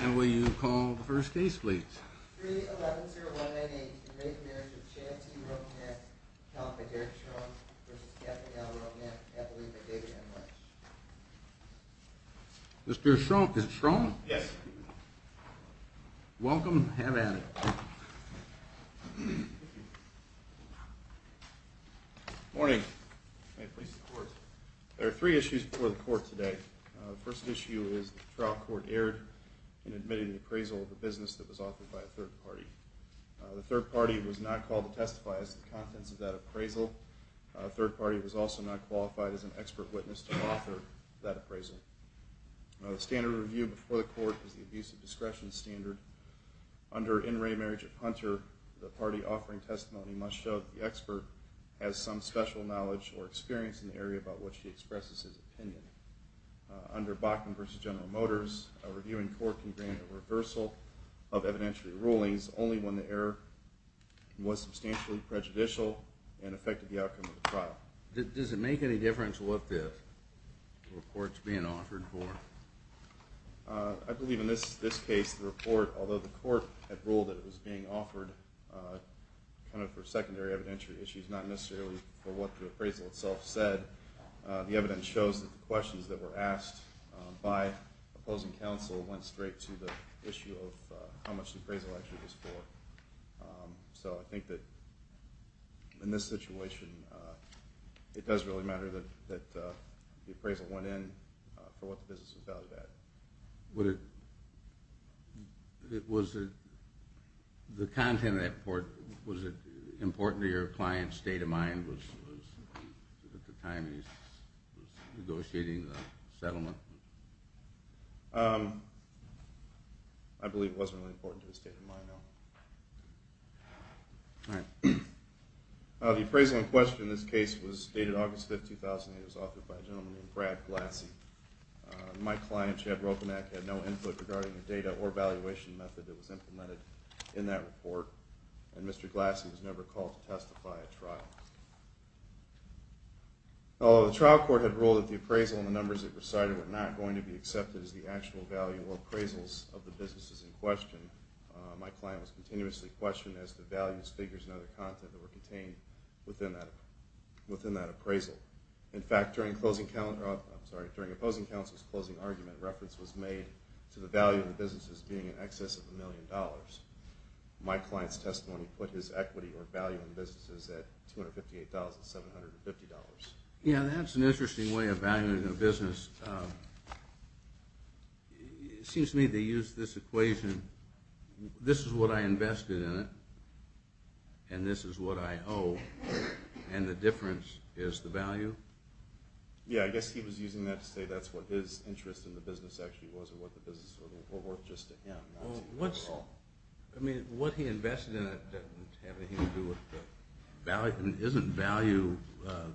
And will you call the first case please? 3-11-0-1-9-8 In Marriage of Chancey Roepenack, Caliphate Derek Schrumpf v. Catherine L. Roepenack, Catholic by David M. Lynch Mr. Schrumpf, is it Schrumpf? Yes. Welcome, have at it. Thank you. Morning. May it please the Court. There are three issues before the Court today. The first issue is that the trial court erred in admitting the appraisal of a business that was authored by a third party. The third party was not called to testify as to the contents of that appraisal. The third party was also not qualified as an expert witness to author that appraisal. The standard of review before the Court is the abuse of discretion standard. Under In Re Marriage of Hunter, the party offering testimony must show that the expert has some special knowledge or experience in the area about which he expresses his opinion. Under Bachman v. General Motors, a reviewing court can grant a reversal of evidentiary rulings only when the error was substantially prejudicial and affected the outcome of the trial. Does it make any difference what the report is being offered for? I believe in this case the report, although the Court had ruled that it was being offered kind of for secondary evidentiary issues, not necessarily for what the appraisal itself said, the evidence shows that the questions that were asked by opposing counsel went straight to the issue of how much the appraisal actually was for. So I think that in this situation it does really matter that the appraisal went in for what the business was valued at. Was the content of that report important to your client's state of mind at the time he was negotiating the settlement? I believe it wasn't really important to his state of mind, no. The appraisal in question in this case was dated August 5, 2008. It was authored by a gentleman named Brad Glassie. My client, Chad Ropenack, had no input regarding the data or valuation method that was implemented in that report, and Mr. Glassie was never called to testify at trial. Although the trial court had ruled that the appraisal and the numbers it recited were not going to be accepted as the actual value or appraisals of the businesses in question, my client was continuously questioned as to the values, figures, and other content that were contained within that appraisal. In fact, during opposing counsel's closing argument, reference was made to the value of the businesses being in excess of a million dollars. My client's testimony put his equity or value in businesses at $258,750. Yeah, that's an interesting way of valuing a business. It seems to me they use this equation, this is what I invested in it, and this is what I owe, and the difference is the value. Yeah, I guess he was using that to say that's what his interest in the business actually was and what the business was worth just to him. Well, what's, I mean, what he invested in it doesn't have anything to do with the value, isn't value,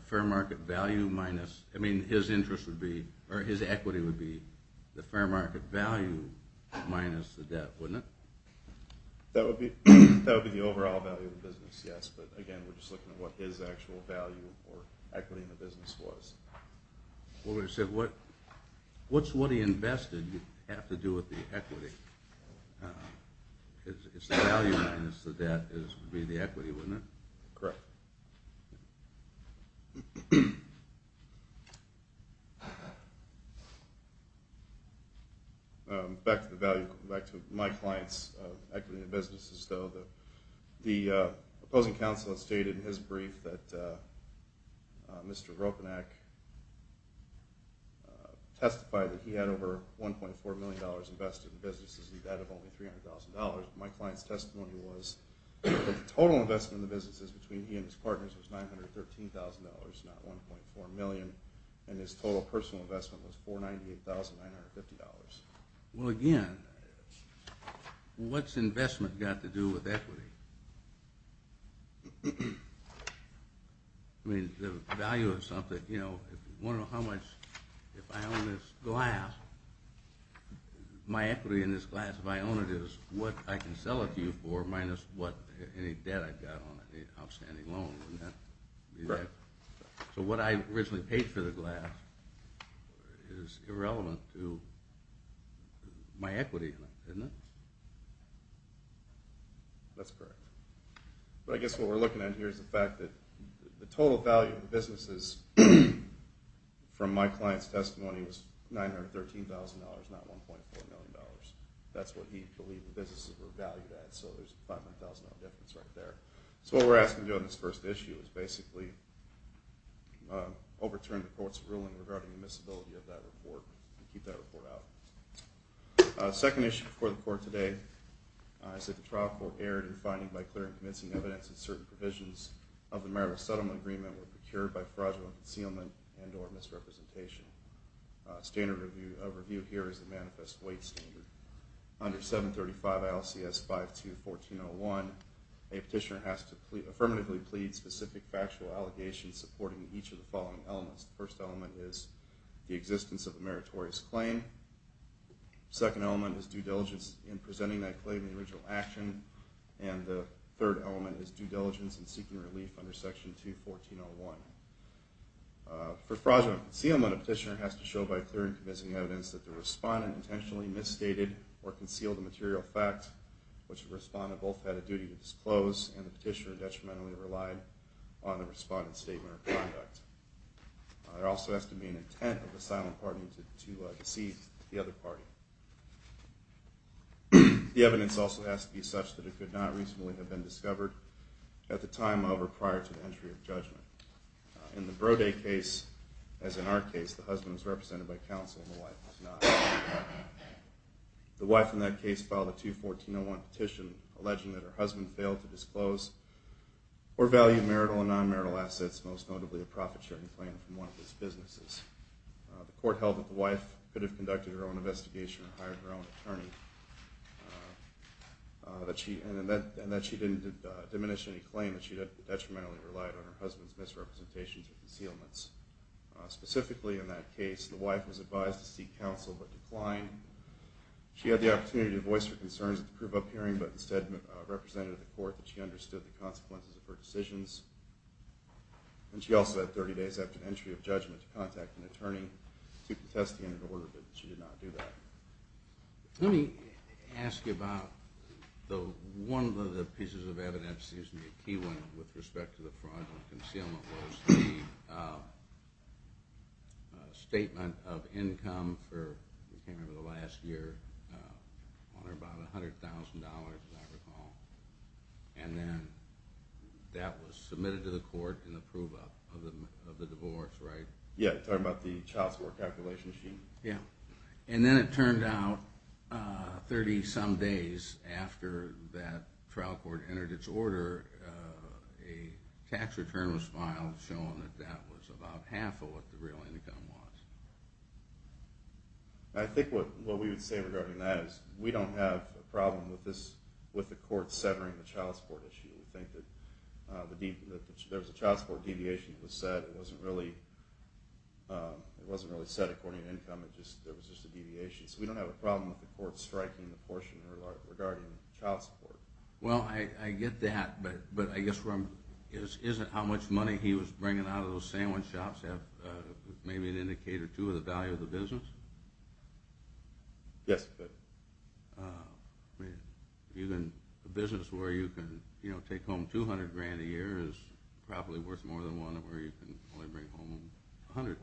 fair market value minus, I mean, his interest would be, or his equity would be the fair market value minus the debt, wouldn't it? That would be the overall value of the business, yes, but again, we're just looking at what his actual value or equity in the business was. Well, what I said, what's what he invested have to do with the equity? It's the value minus the debt would be the equity, wouldn't it? Correct. Back to the value, back to my client's equity in businesses, though. The opposing counsel has stated in his brief that Mr. Ropanak testified that he had over $1.4 million invested in businesses and debt of only $300,000. My client's testimony was the total investment in the businesses between he and his partners was $913,000, not $1.4 million, and his total personal investment was $498,950. Well, again, what's investment got to do with equity? I mean, the value of something, you know, if I own this glass, my equity in this glass, if I own it, is what I can sell it to you for minus any debt I've got on it, outstanding loan, wouldn't that be that? Correct. So what I originally paid for the glass is irrelevant to my equity, isn't it? That's correct. But I guess what we're looking at here is the fact that the total value of the businesses from my client's testimony was $913,000, not $1.4 million. That's what he believed the businesses were valued at, so there's a $500,000 difference right there. So what we're asking to do on this first issue is basically overturn the court's ruling regarding the miscibility of that report and keep that report out. Second issue before the court today is that the trial court erred in finding by clearing convincing evidence that certain provisions of the marital settlement agreement were procured by fraudulent concealment and or misrepresentation. Standard of review here is the manifest weight standard. Under 735 LCS 5214-01, a petitioner has to affirmatively plead specific factual allegations supporting each of the following elements. The first element is the existence of a meritorious claim, the second element is due diligence in presenting that claim in the original action, and the third element is due diligence in seeking relief under Section 214-01. For fraudulent concealment, a petitioner has to show by clearing convincing evidence that the respondent intentionally misstated or concealed a material fact which the respondent both had a duty to disclose and the petitioner detrimentally relied on the respondent's statement of conduct. There also has to be an intent of the silent party to deceive the other party. The evidence also has to be such that it could not recently have been discovered at the time of or prior to the entry of judgment. In the Brode case, as in our case, the husband was represented by counsel and the wife was not. The wife in that case filed a 214-01 petition alleging that her husband failed to disclose or value marital and non-marital assets, most notably a profit-sharing plan from one of his businesses. The court held that the wife could have conducted her own investigation and hired her own attorney, and that she didn't diminish any claim that she had detrimentally relied on her husband's misrepresentations or concealments. Specifically in that case, the wife was advised to seek counsel but declined. She had the opportunity to voice her concerns at the prove-up hearing but instead represented the court that she understood the consequences of her decisions. And she also had 30 days after the entry of judgment to contact an attorney to protest the entered order but she did not do that. Let me ask you about one of the pieces of evidence that seems to be a key one with respect to the fraudulent concealment was the statement of income for, I can't remember the last year, about $100,000 as I recall, and then that was submitted to the court in the prove-up of the divorce, right? Yeah, talking about the child support calculation sheet. Yeah, and then it turned out 30 some days after that trial court entered its order, a tax return was filed showing that that was about half of what the real income was. I think what we would say regarding that is we don't have a problem with the court severing the child support issue. We think that there was a child support deviation that was set, it wasn't really set according to income, it was just a deviation. So we don't have a problem with the court striking the portion regarding child support. Well, I get that, but I guess isn't how much money he was bringing out of those sandwich shops maybe an indicator, too, of the value of the business? Yes. A business where you can take home $200,000 a year is probably worth more than one where you can only bring home $100,000.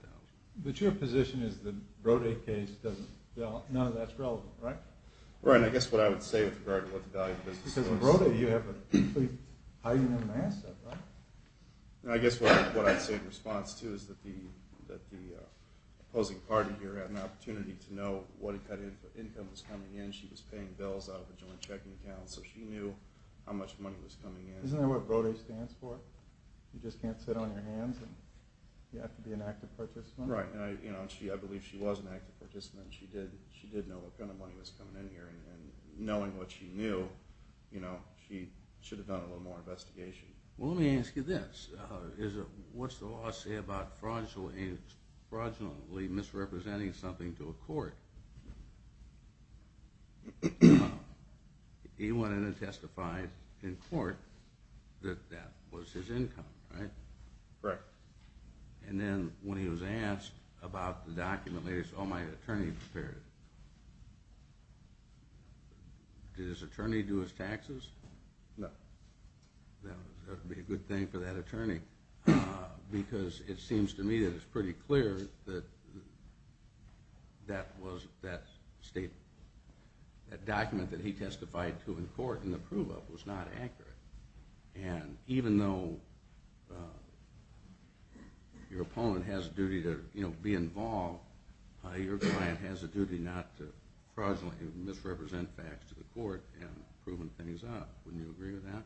But your position is the Brode case, none of that's relevant, right? Right, and I guess what I would say with regard to what the value of the business is... Because with Brode, you have a complete hiding of an asset, right? I guess what I'd say in response, too, is that the opposing party here had an opportunity to know what kind of income was coming in. She was paying bills out of a joint checking account, so she knew how much money was coming in. Isn't that what Brode stands for? You just can't sit on your hands and you have to be an active participant? Right, and I believe she was an active participant. She did know what kind of money was coming in here, and knowing what she knew, she should have done a little more investigation. Well, let me ask you this. What's the law say about fraudulently misrepresenting something to a court? He went in and testified in court that that was his income, right? Correct. And then when he was asked about the document, he said, oh, my attorney prepared it. Did his attorney do his taxes? No. That would be a good thing for that attorney, because it seems to me that it's pretty clear that that document that he testified to in court and the proof of it was not accurate. And even though your opponent has a duty to be involved, your client has a duty not to fraudulently misrepresent facts to the court in proving things out. Wouldn't you agree with that?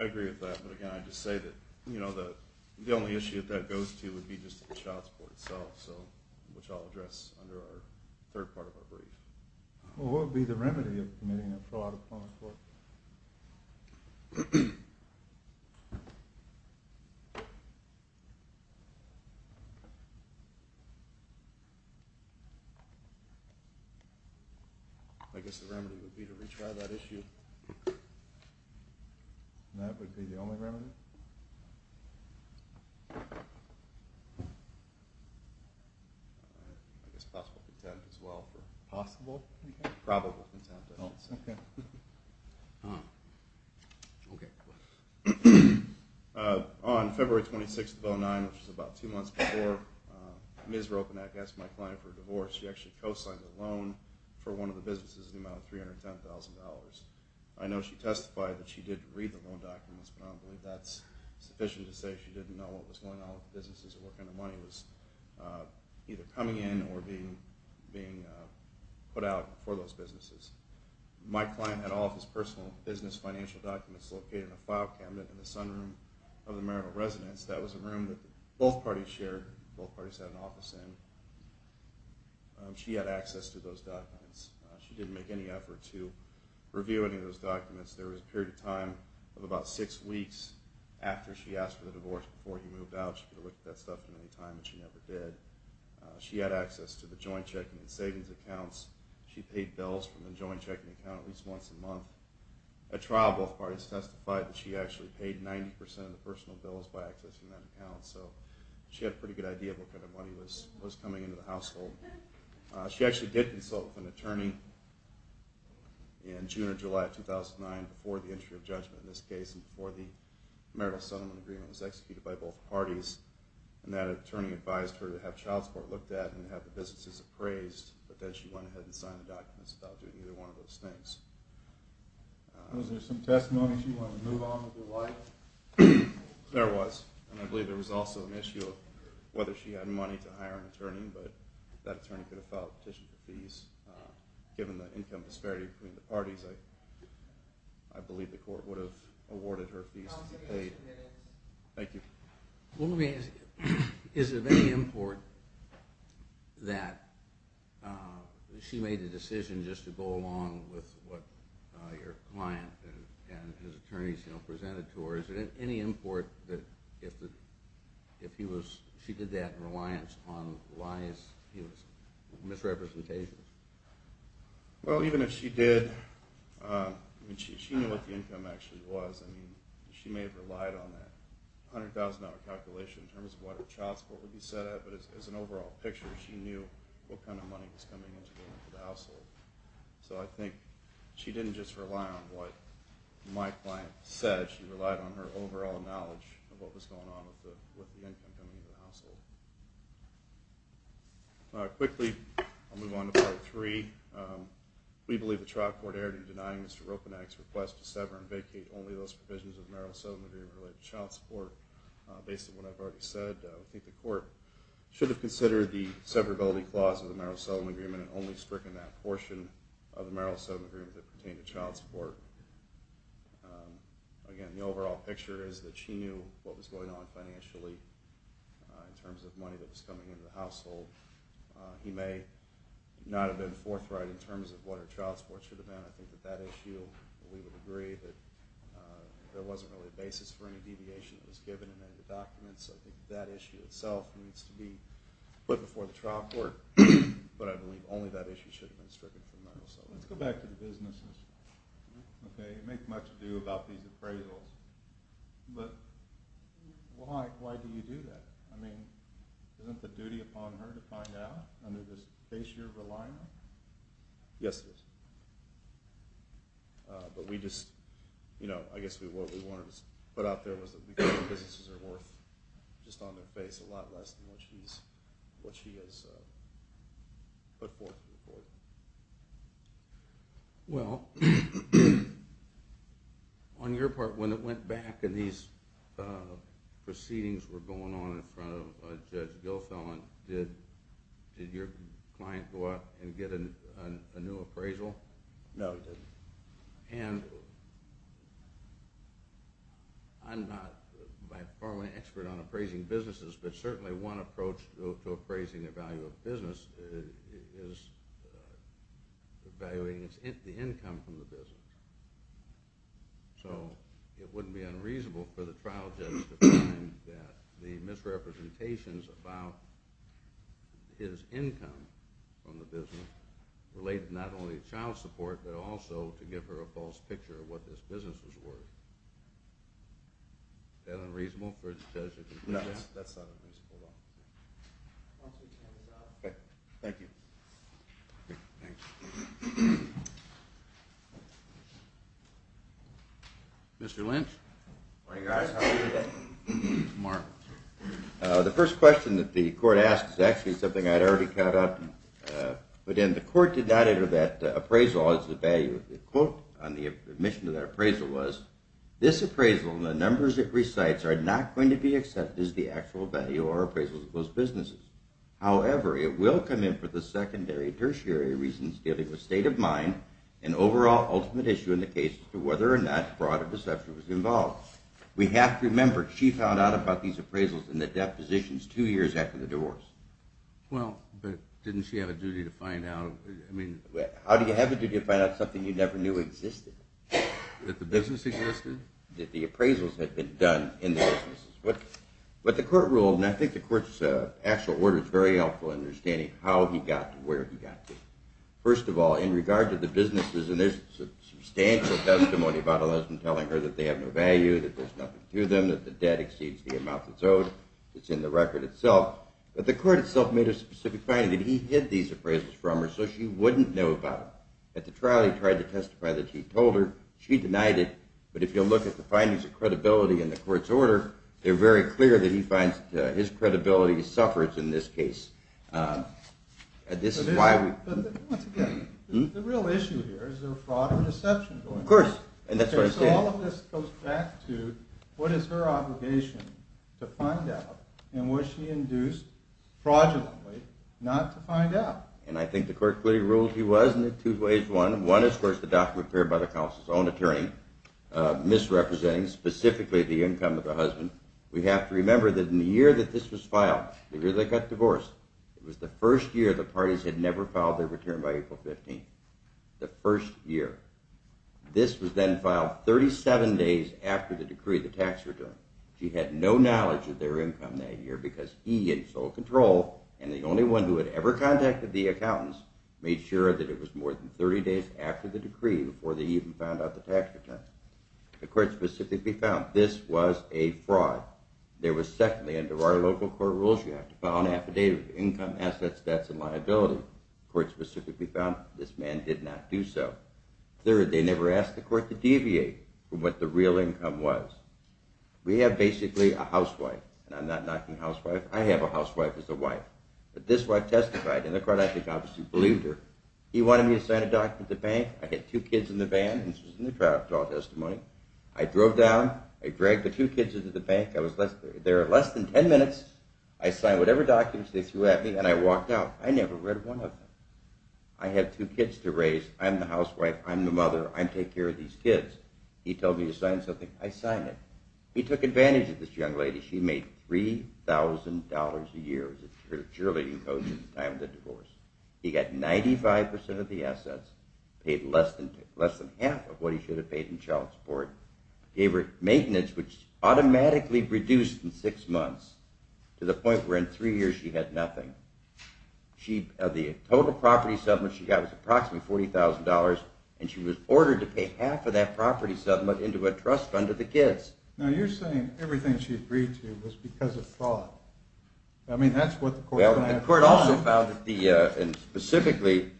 I agree with that, but again, I'd just say that the only issue that that goes to would be just the child support itself, which I'll address under our third part of our brief. Well, what would be the remedy of committing a fraud upon a court? I guess the remedy would be to retry that issue. And that would be the only remedy? I guess possible contempt as well. Possible? Probable contempt, I should say. Okay. On February 26th of 2009, which was about two months before, Ms. Ropenack asked my client for a divorce. She actually co-signed a loan for one of the businesses in the amount of $310,000. I know she testified that she did read the loan documents, but I don't believe that's sufficient to say she didn't know what was going on with the businesses and what kind of money was either coming in or being put out for those businesses. My client had all of his personal business financial documents located in a file cabinet in the sunroom of the marital residence. That was a room that both parties shared, both parties had an office in. She had access to those documents. She didn't make any effort to review any of those documents. There was a period of time of about six weeks after she asked for the divorce before he moved out. She could have looked at that stuff at any time, but she never did. She had access to the joint checking and savings accounts. She paid bills from the joint checking account at least once a month. At trial, both parties testified that she actually paid 90% of the personal bills by accessing that account. So she had a pretty good idea of what kind of money was coming into the household. She actually did consult with an attorney in June or July of 2009 before the entry of judgment in this case and before the marital settlement agreement was executed by both parties, and that attorney advised her to have child support looked at and have the businesses appraised, but then she went ahead and signed the documents without doing either one of those things. Was there some testimony she wanted to move on with her life? There was, and I believe there was also an issue of whether she had money to hire an attorney, but that attorney could have filed a petition for fees. Given the income disparity between the parties, I believe the court would have awarded her fees to be paid. Thank you. Let me ask you, is it of any import that she made the decision just to go along with what your client and his attorneys presented to her? Is it of any import that she did that in reliance on lies, misrepresentations? Well, even if she did, she knew what the income actually was. She may have relied on that $100,000 calculation in terms of what her child support would be set at, but as an overall picture, she knew what kind of money was coming into the household. So I think she didn't just rely on what my client said. She relied on her overall knowledge of what was going on with the income coming into the household. Quickly, I'll move on to Part 3. We believe the trial court erred in denying Mr. Roponak's request to sever and vacate only those provisions of the Merrill-Sutton Agreement related to child support. Based on what I've already said, I think the court should have considered the severability clause of the Merrill-Sutton Agreement and only stricken that portion of the Merrill-Sutton Agreement that pertained to child support. Again, the overall picture is that she knew what was going on financially in terms of money that was coming into the household. He may not have been forthright in terms of what her child support should have been. I think with that issue, we would agree that there wasn't really a basis for any deviation that was given in any of the documents. I think that issue itself needs to be put before the trial court, but I believe only that issue should have been stricken for Merrill-Sutton. Let's go back to the businesses. You make much ado about these appraisals, but why do you do that? I mean, isn't the duty upon her to find out under this facier of a line? Yes, it is. But we just, you know, I guess what we wanted to put out there was that we think the businesses are worth, just on their face, a lot less than what she has put forth to the court. Well, on your part, when it went back and these proceedings were going on in front of Judge Gilfelin, did your client go out and get a new appraisal? No, he didn't. And I'm not by far an expert on appraising businesses, but certainly one approach to appraising the value of a business is evaluating the income from the business. So it wouldn't be unreasonable for the trial judge to find that the misrepresentations about his income from the business related not only to child support, but also to give her a false picture of what this business was worth. Is that unreasonable for the judge to do that? No, that's not unreasonable at all. Thank you. Mr. Lynch? Good morning, guys. How are you today? Mark. The first question that the court asked is actually something I'd already caught up. But then the court did not enter that appraisal as the value. The quote on the admission to that appraisal was, this appraisal and the numbers it recites are not going to be accepted as the actual value or appraisals of those businesses. However, it will come in for the secondary, tertiary reasons dealing with state of mind and overall ultimate issue in the case as to whether or not fraud or deception was involved. We have to remember, she found out about these appraisals in the depositions two years after the divorce. Well, but didn't she have a duty to find out? How do you have a duty to find out something you never knew existed? That the business existed? That the appraisals had been done in the businesses. But the court ruled, and I think the court's actual order is very helpful in understanding how he got to where he got to. First of all, in regard to the businesses, and there's substantial testimony about Elizabeth telling her that they have no value, that there's nothing to them, that the debt exceeds the amount that's owed, that's in the record itself. But the court itself made a specific finding that he hid these appraisals from her so she wouldn't know about them. At the trial, he tried to testify that he told her. She denied it. But if you'll look at the findings of credibility in the court's order, they're very clear that he finds his credibility suffers in this case. This is why we... But once again, the real issue here is there fraud and deception going on. Of course, and that's what I'm saying. So all of this goes back to what is her obligation to find out, and was she induced fraudulently not to find out? And I think the court clearly ruled he was in two ways. One is, of course, the document prepared by the counsel's own attorney, misrepresenting specifically the income of the husband. We have to remember that in the year that this was filed, the year they got divorced, it was the first year the parties had never filed their return by April 15th. The first year. This was then filed 37 days after the decree, the tax return. She had no knowledge of their income that year because he had sole control, and the only one who had ever contacted the accountants made sure that it was more than 30 days after the decree before they even found out the tax return. The court specifically found this was a fraud. There was secondly, under our local court rules, you have to file an affidavit of income, assets, debts, and liability. The court specifically found this man did not do so. Third, they never asked the court to deviate from what the real income was. We have basically a housewife. And I'm not knocking housewife. I have a housewife as a wife. But this wife testified, and the court I think obviously believed her. He wanted me to sign a document at the bank. I had two kids in the van, and this was in the trial withdrawal testimony. I drove down. I dragged the two kids into the bank. There are less than 10 minutes. I signed whatever documents they threw at me, and I walked out. I never read one of them. I had two kids to raise. I'm the housewife. I'm the mother. I take care of these kids. He told me to sign something. I signed it. He took advantage of this young lady. She made $3,000 a year as a cheerleading coach at the time of the divorce. He got 95% of the assets, paid less than half of what he should have paid in child support, gave her maintenance, which automatically reduced in six months to the point where in three years she had nothing. The total property settlement she got was approximately $40,000, and she was ordered to pay half of that property settlement into a trust fund to the kids. Now, you're saying everything she agreed to was because of thought. I mean, that's what the court found. Well, the court also found that the, and specifically,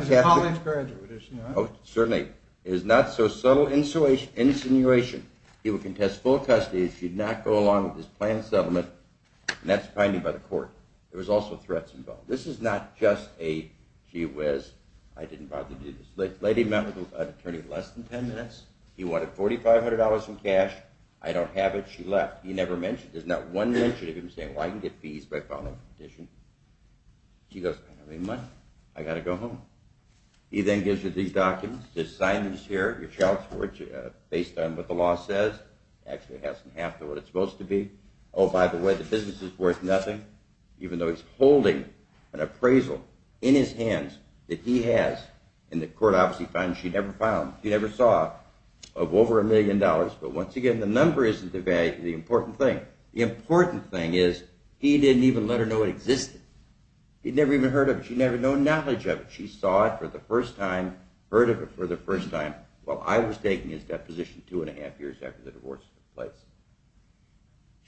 She's a college graduate, is she not? Oh, certainly. It was not so subtle insinuation. He would contest full custody if she did not go along with his planned settlement, and that's fined him by the court. There was also threats involved. This is not just a gee whiz. I didn't bother to do this. The lady met with an attorney in less than 10 minutes. He wanted $4,500 in cash. I don't have it. She left. He never mentioned it. There's not one mention of him saying, well, I can get fees by filing a petition. She goes, I don't have any money. I got to go home. He then gives her these documents. There's signage here. He shouts for it based on what the law says. Actually, it has to have what it's supposed to be. Oh, by the way, the business is worth nothing, even though he's holding an appraisal in his hands that he has, and the court obviously finds she never filed. He never saw of over a million dollars. But once again, the number isn't the important thing. The important thing is he didn't even let her know it existed. He never even heard of it. She never had no knowledge of it. She saw it for the first time, heard of it for the first time, while I was taking his deposition two and a half years after the divorce took place.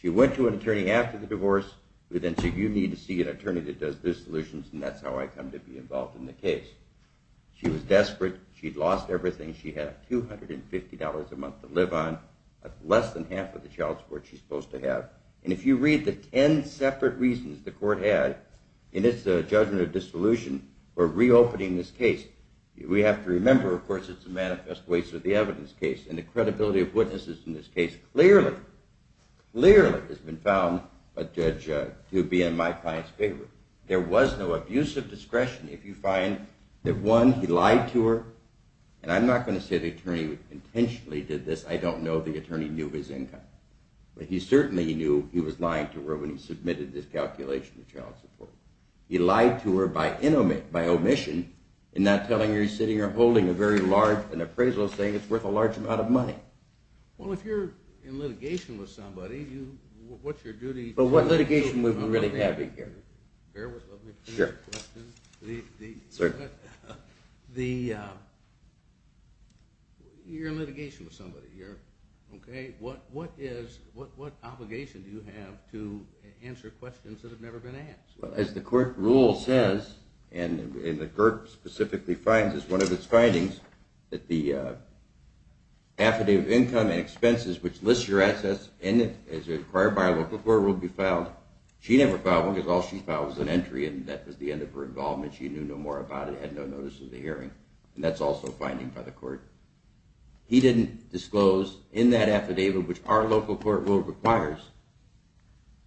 She went to an attorney after the divorce. We then said, you need to see an attorney that does dissolutions, and that's how I come to be involved in the case. She was desperate. She'd lost everything she had, $250 a month to live on. That's less than half of the child support she's supposed to have. And if you read the ten separate reasons the court had in its judgment of dissolution for reopening this case, we have to remember, of course, it's a manifest waste of the evidence case, and the credibility of witnesses in this case clearly, clearly has been found to be in my client's favor. There was no abusive discretion. If you find that, one, he lied to her, and I'm not going to say the attorney intentionally did this. I don't know. The attorney knew his income. But he certainly knew he was lying to her when he submitted this calculation of child support. He lied to her by omission, and not telling her he's sitting here holding a very large, an appraisal saying it's worth a large amount of money. Well, if you're in litigation with somebody, what's your duty? Well, what litigation would we really have here? Bear with me for a minute. Sure. You're in litigation with somebody, okay? What obligation do you have to answer questions that have never been asked? Well, as the court rule says, and the court specifically finds as one of its findings, that the affidavit of income and expenses, which lists your assets, and is required by our local court rule to be filed, she never filed one because all she filed was an entry, and that was the end of her involvement. She knew no more about it, had no notice of the hearing. And that's also a finding by the court. He didn't disclose in that affidavit, which our local court rule requires,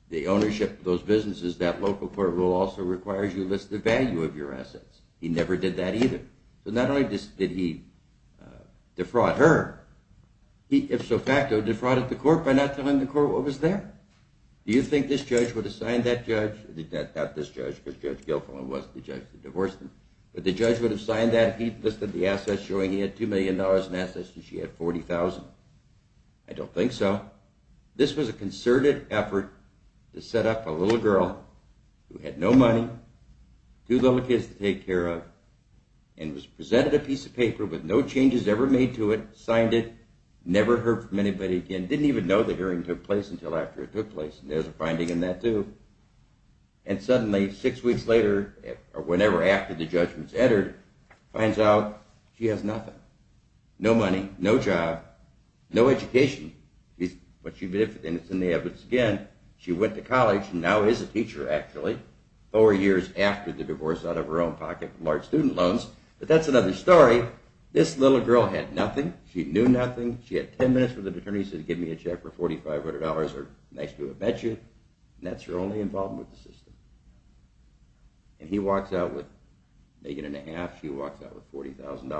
the ownership of those businesses, that local court rule also requires you list the value of your assets. He never did that either. So not only did he defraud her, he, if so facto, defrauded the court by not telling the court what was there. Do you think this judge would have signed that judge? Not this judge, because Judge Guilfoyle was the judge that divorced him. But the judge would have signed that if he'd listed the assets showing he had $2 million in assets and she had $40,000? I don't think so. This was a concerted effort to set up a little girl who had no money, two little kids to take care of, and was presented a piece of paper with no changes ever made to it, signed it, never heard from anybody again, didn't even know the hearing took place until after it took place. There's a finding in that too. And suddenly, six weeks later, or whenever after the judgment's entered, finds out she has nothing. No money, no job, no education. And it's in the evidence again. She went to college and now is a teacher, actually, four years after the divorce out of her own pocket from large student loans. But that's another story. This little girl had nothing. She knew nothing. She had 10 minutes with an attorney, said give me a check for $4,500 or nice to have met you. And that's her only involvement with the system. And he walks out with a million and a half, she walks out with $40,000 and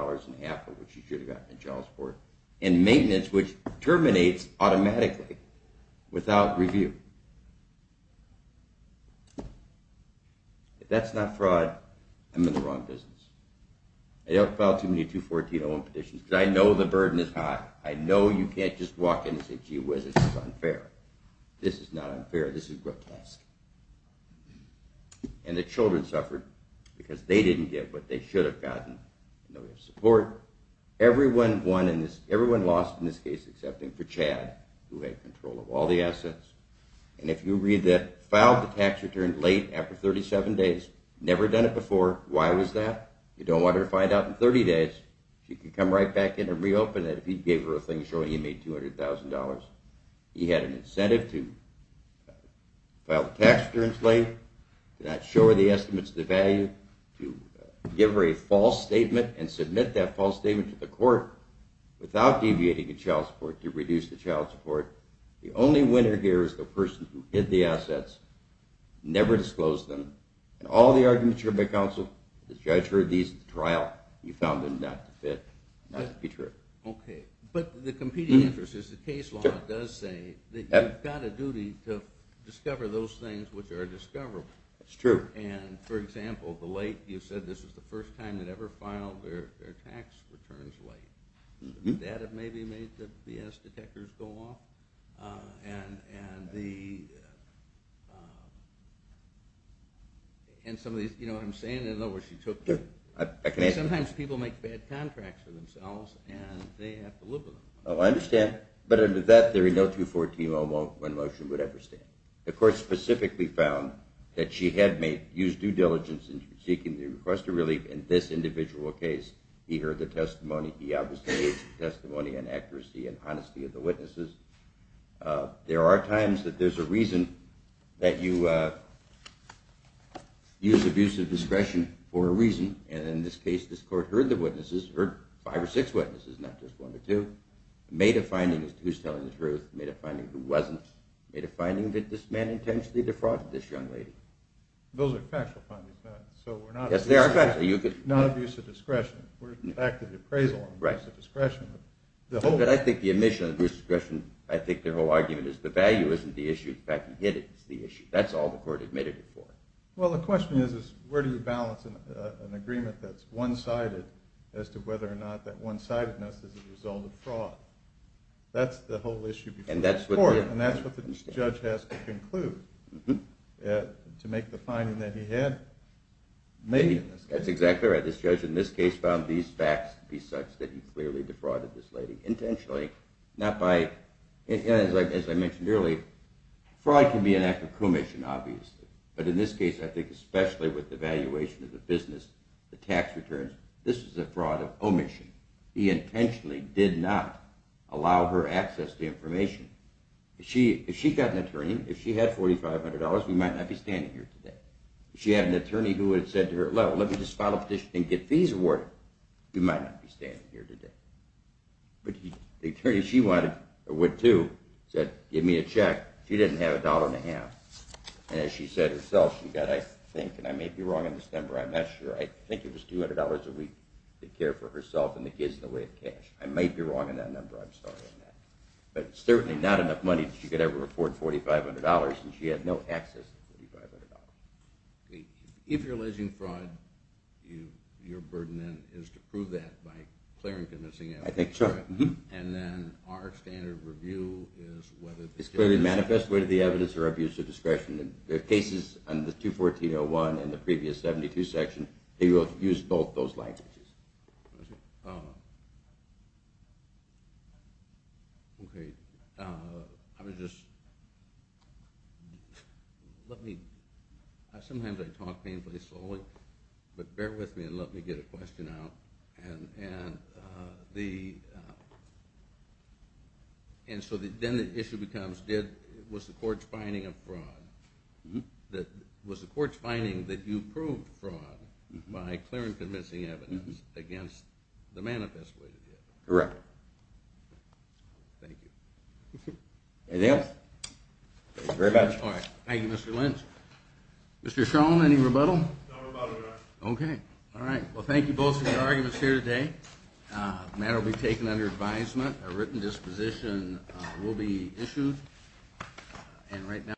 a half of what she should have gotten in child support. And maintenance, which terminates automatically without review. If that's not fraud, I'm in the wrong business. I don't file too many 214-01 petitions because I know the burden is high. I know you can't just walk in and say, gee whiz, this is unfair. This is not unfair. This is grotesque. And the children suffered because they didn't get what they should have gotten, no support. Everyone lost in this case except for Chad, who had control of all the assets. And if you read that, filed the tax return late after 37 days, never done it before. Why was that? You don't want her to find out in 30 days. She could come right back in and reopen it if he gave her a thing showing he made $200,000. He had an incentive to file the tax returns late, to not show her the estimates of the value, to give her a false statement and submit that false statement to the court without deviating a child support, to reduce the child support. The only winner here is the person who hid the assets, never disclosed them. And all the arguments you heard by counsel, the judge heard these at the trial, you found them not to fit, not to be true. Okay. But the competing interest is the case law does say that you've got a duty to discover those things which are discoverable. That's true. And, for example, the late, you said this was the first time they'd ever filed their tax returns late. That maybe made the B.S. detectors go off. And some of these, you know what I'm saying? I don't know where she took them. Sometimes people make bad contracts for themselves, and they have to live with them. Oh, I understand. But under that theory, no 214-01 motion would ever stand. The court specifically found that she had used due diligence in seeking the request of relief in this individual case. He heard the testimony. He obviously gave testimony on accuracy and honesty of the witnesses. There are times that there's a reason that you use abusive discretion for a reason. And in this case, this court heard the witnesses, heard five or six witnesses, not just one or two, made a finding as to who's telling the truth, made a finding who wasn't, made a finding that this man intentionally defrauded this young lady. Those are factual findings. Yes, they are factual. So we're not abusing discretion. We're at the fact of the appraisal of abuse of discretion. I think the omission of abuse of discretion, I think the whole argument is the value isn't the issue, the fact that he did it is the issue. That's all the court admitted before. Well, the question is where do you balance an agreement that's one-sided as to whether or not that one-sidedness is a result of fraud. That's the whole issue before this court, and that's what this judge has to conclude to make the finding that he had made. That's exactly right. This judge in this case found these facts to be such that he clearly defrauded this lady intentionally, not by, as I mentioned earlier, fraud can be an act of commission, obviously. But in this case, I think especially with the valuation of the business, the tax returns, this is a fraud of omission. He intentionally did not allow her access to information. If she got an attorney, if she had $4,500, we might not be standing here today. If she had an attorney who had said to her, let me just file a petition and get fees awarded, we might not be standing here today. But the attorney she went to said, give me a check. She didn't have $1.50, and as she said herself, she got, I think, and I may be wrong on this number, I'm not sure, I think it was $200 a week to care for herself and the kids in the way of cash. I might be wrong on that number. I'm sorry on that. But certainly not enough money that she could ever afford $4,500, and she had no access to $4,500. If you're alleging fraud, your burden then is to prove that by clearing convincing evidence. I think so. And then our standard review is whether the judge is… It's clearly manifest, whether the evidence or abuse of discretion. The cases in the 214-01 and the previous 72 section, they both use both those languages. Okay. I was just… Let me… Sometimes I talk painfully slowly, but bear with me and let me get a question out. And so then the issue becomes, was the court's finding of fraud? Was the court's finding that you proved fraud by clearing convincing evidence against the manifest way? Correct. Thank you. Anything else? Thank you very much. All right. Thank you, Mr. Lynch. Mr. Shulman, any rebuttal? No rebuttal, Your Honor. Okay. All right. Well, thank you both for your arguments here today. The matter will be taken under advisement. A written disposition will be issued. And right now…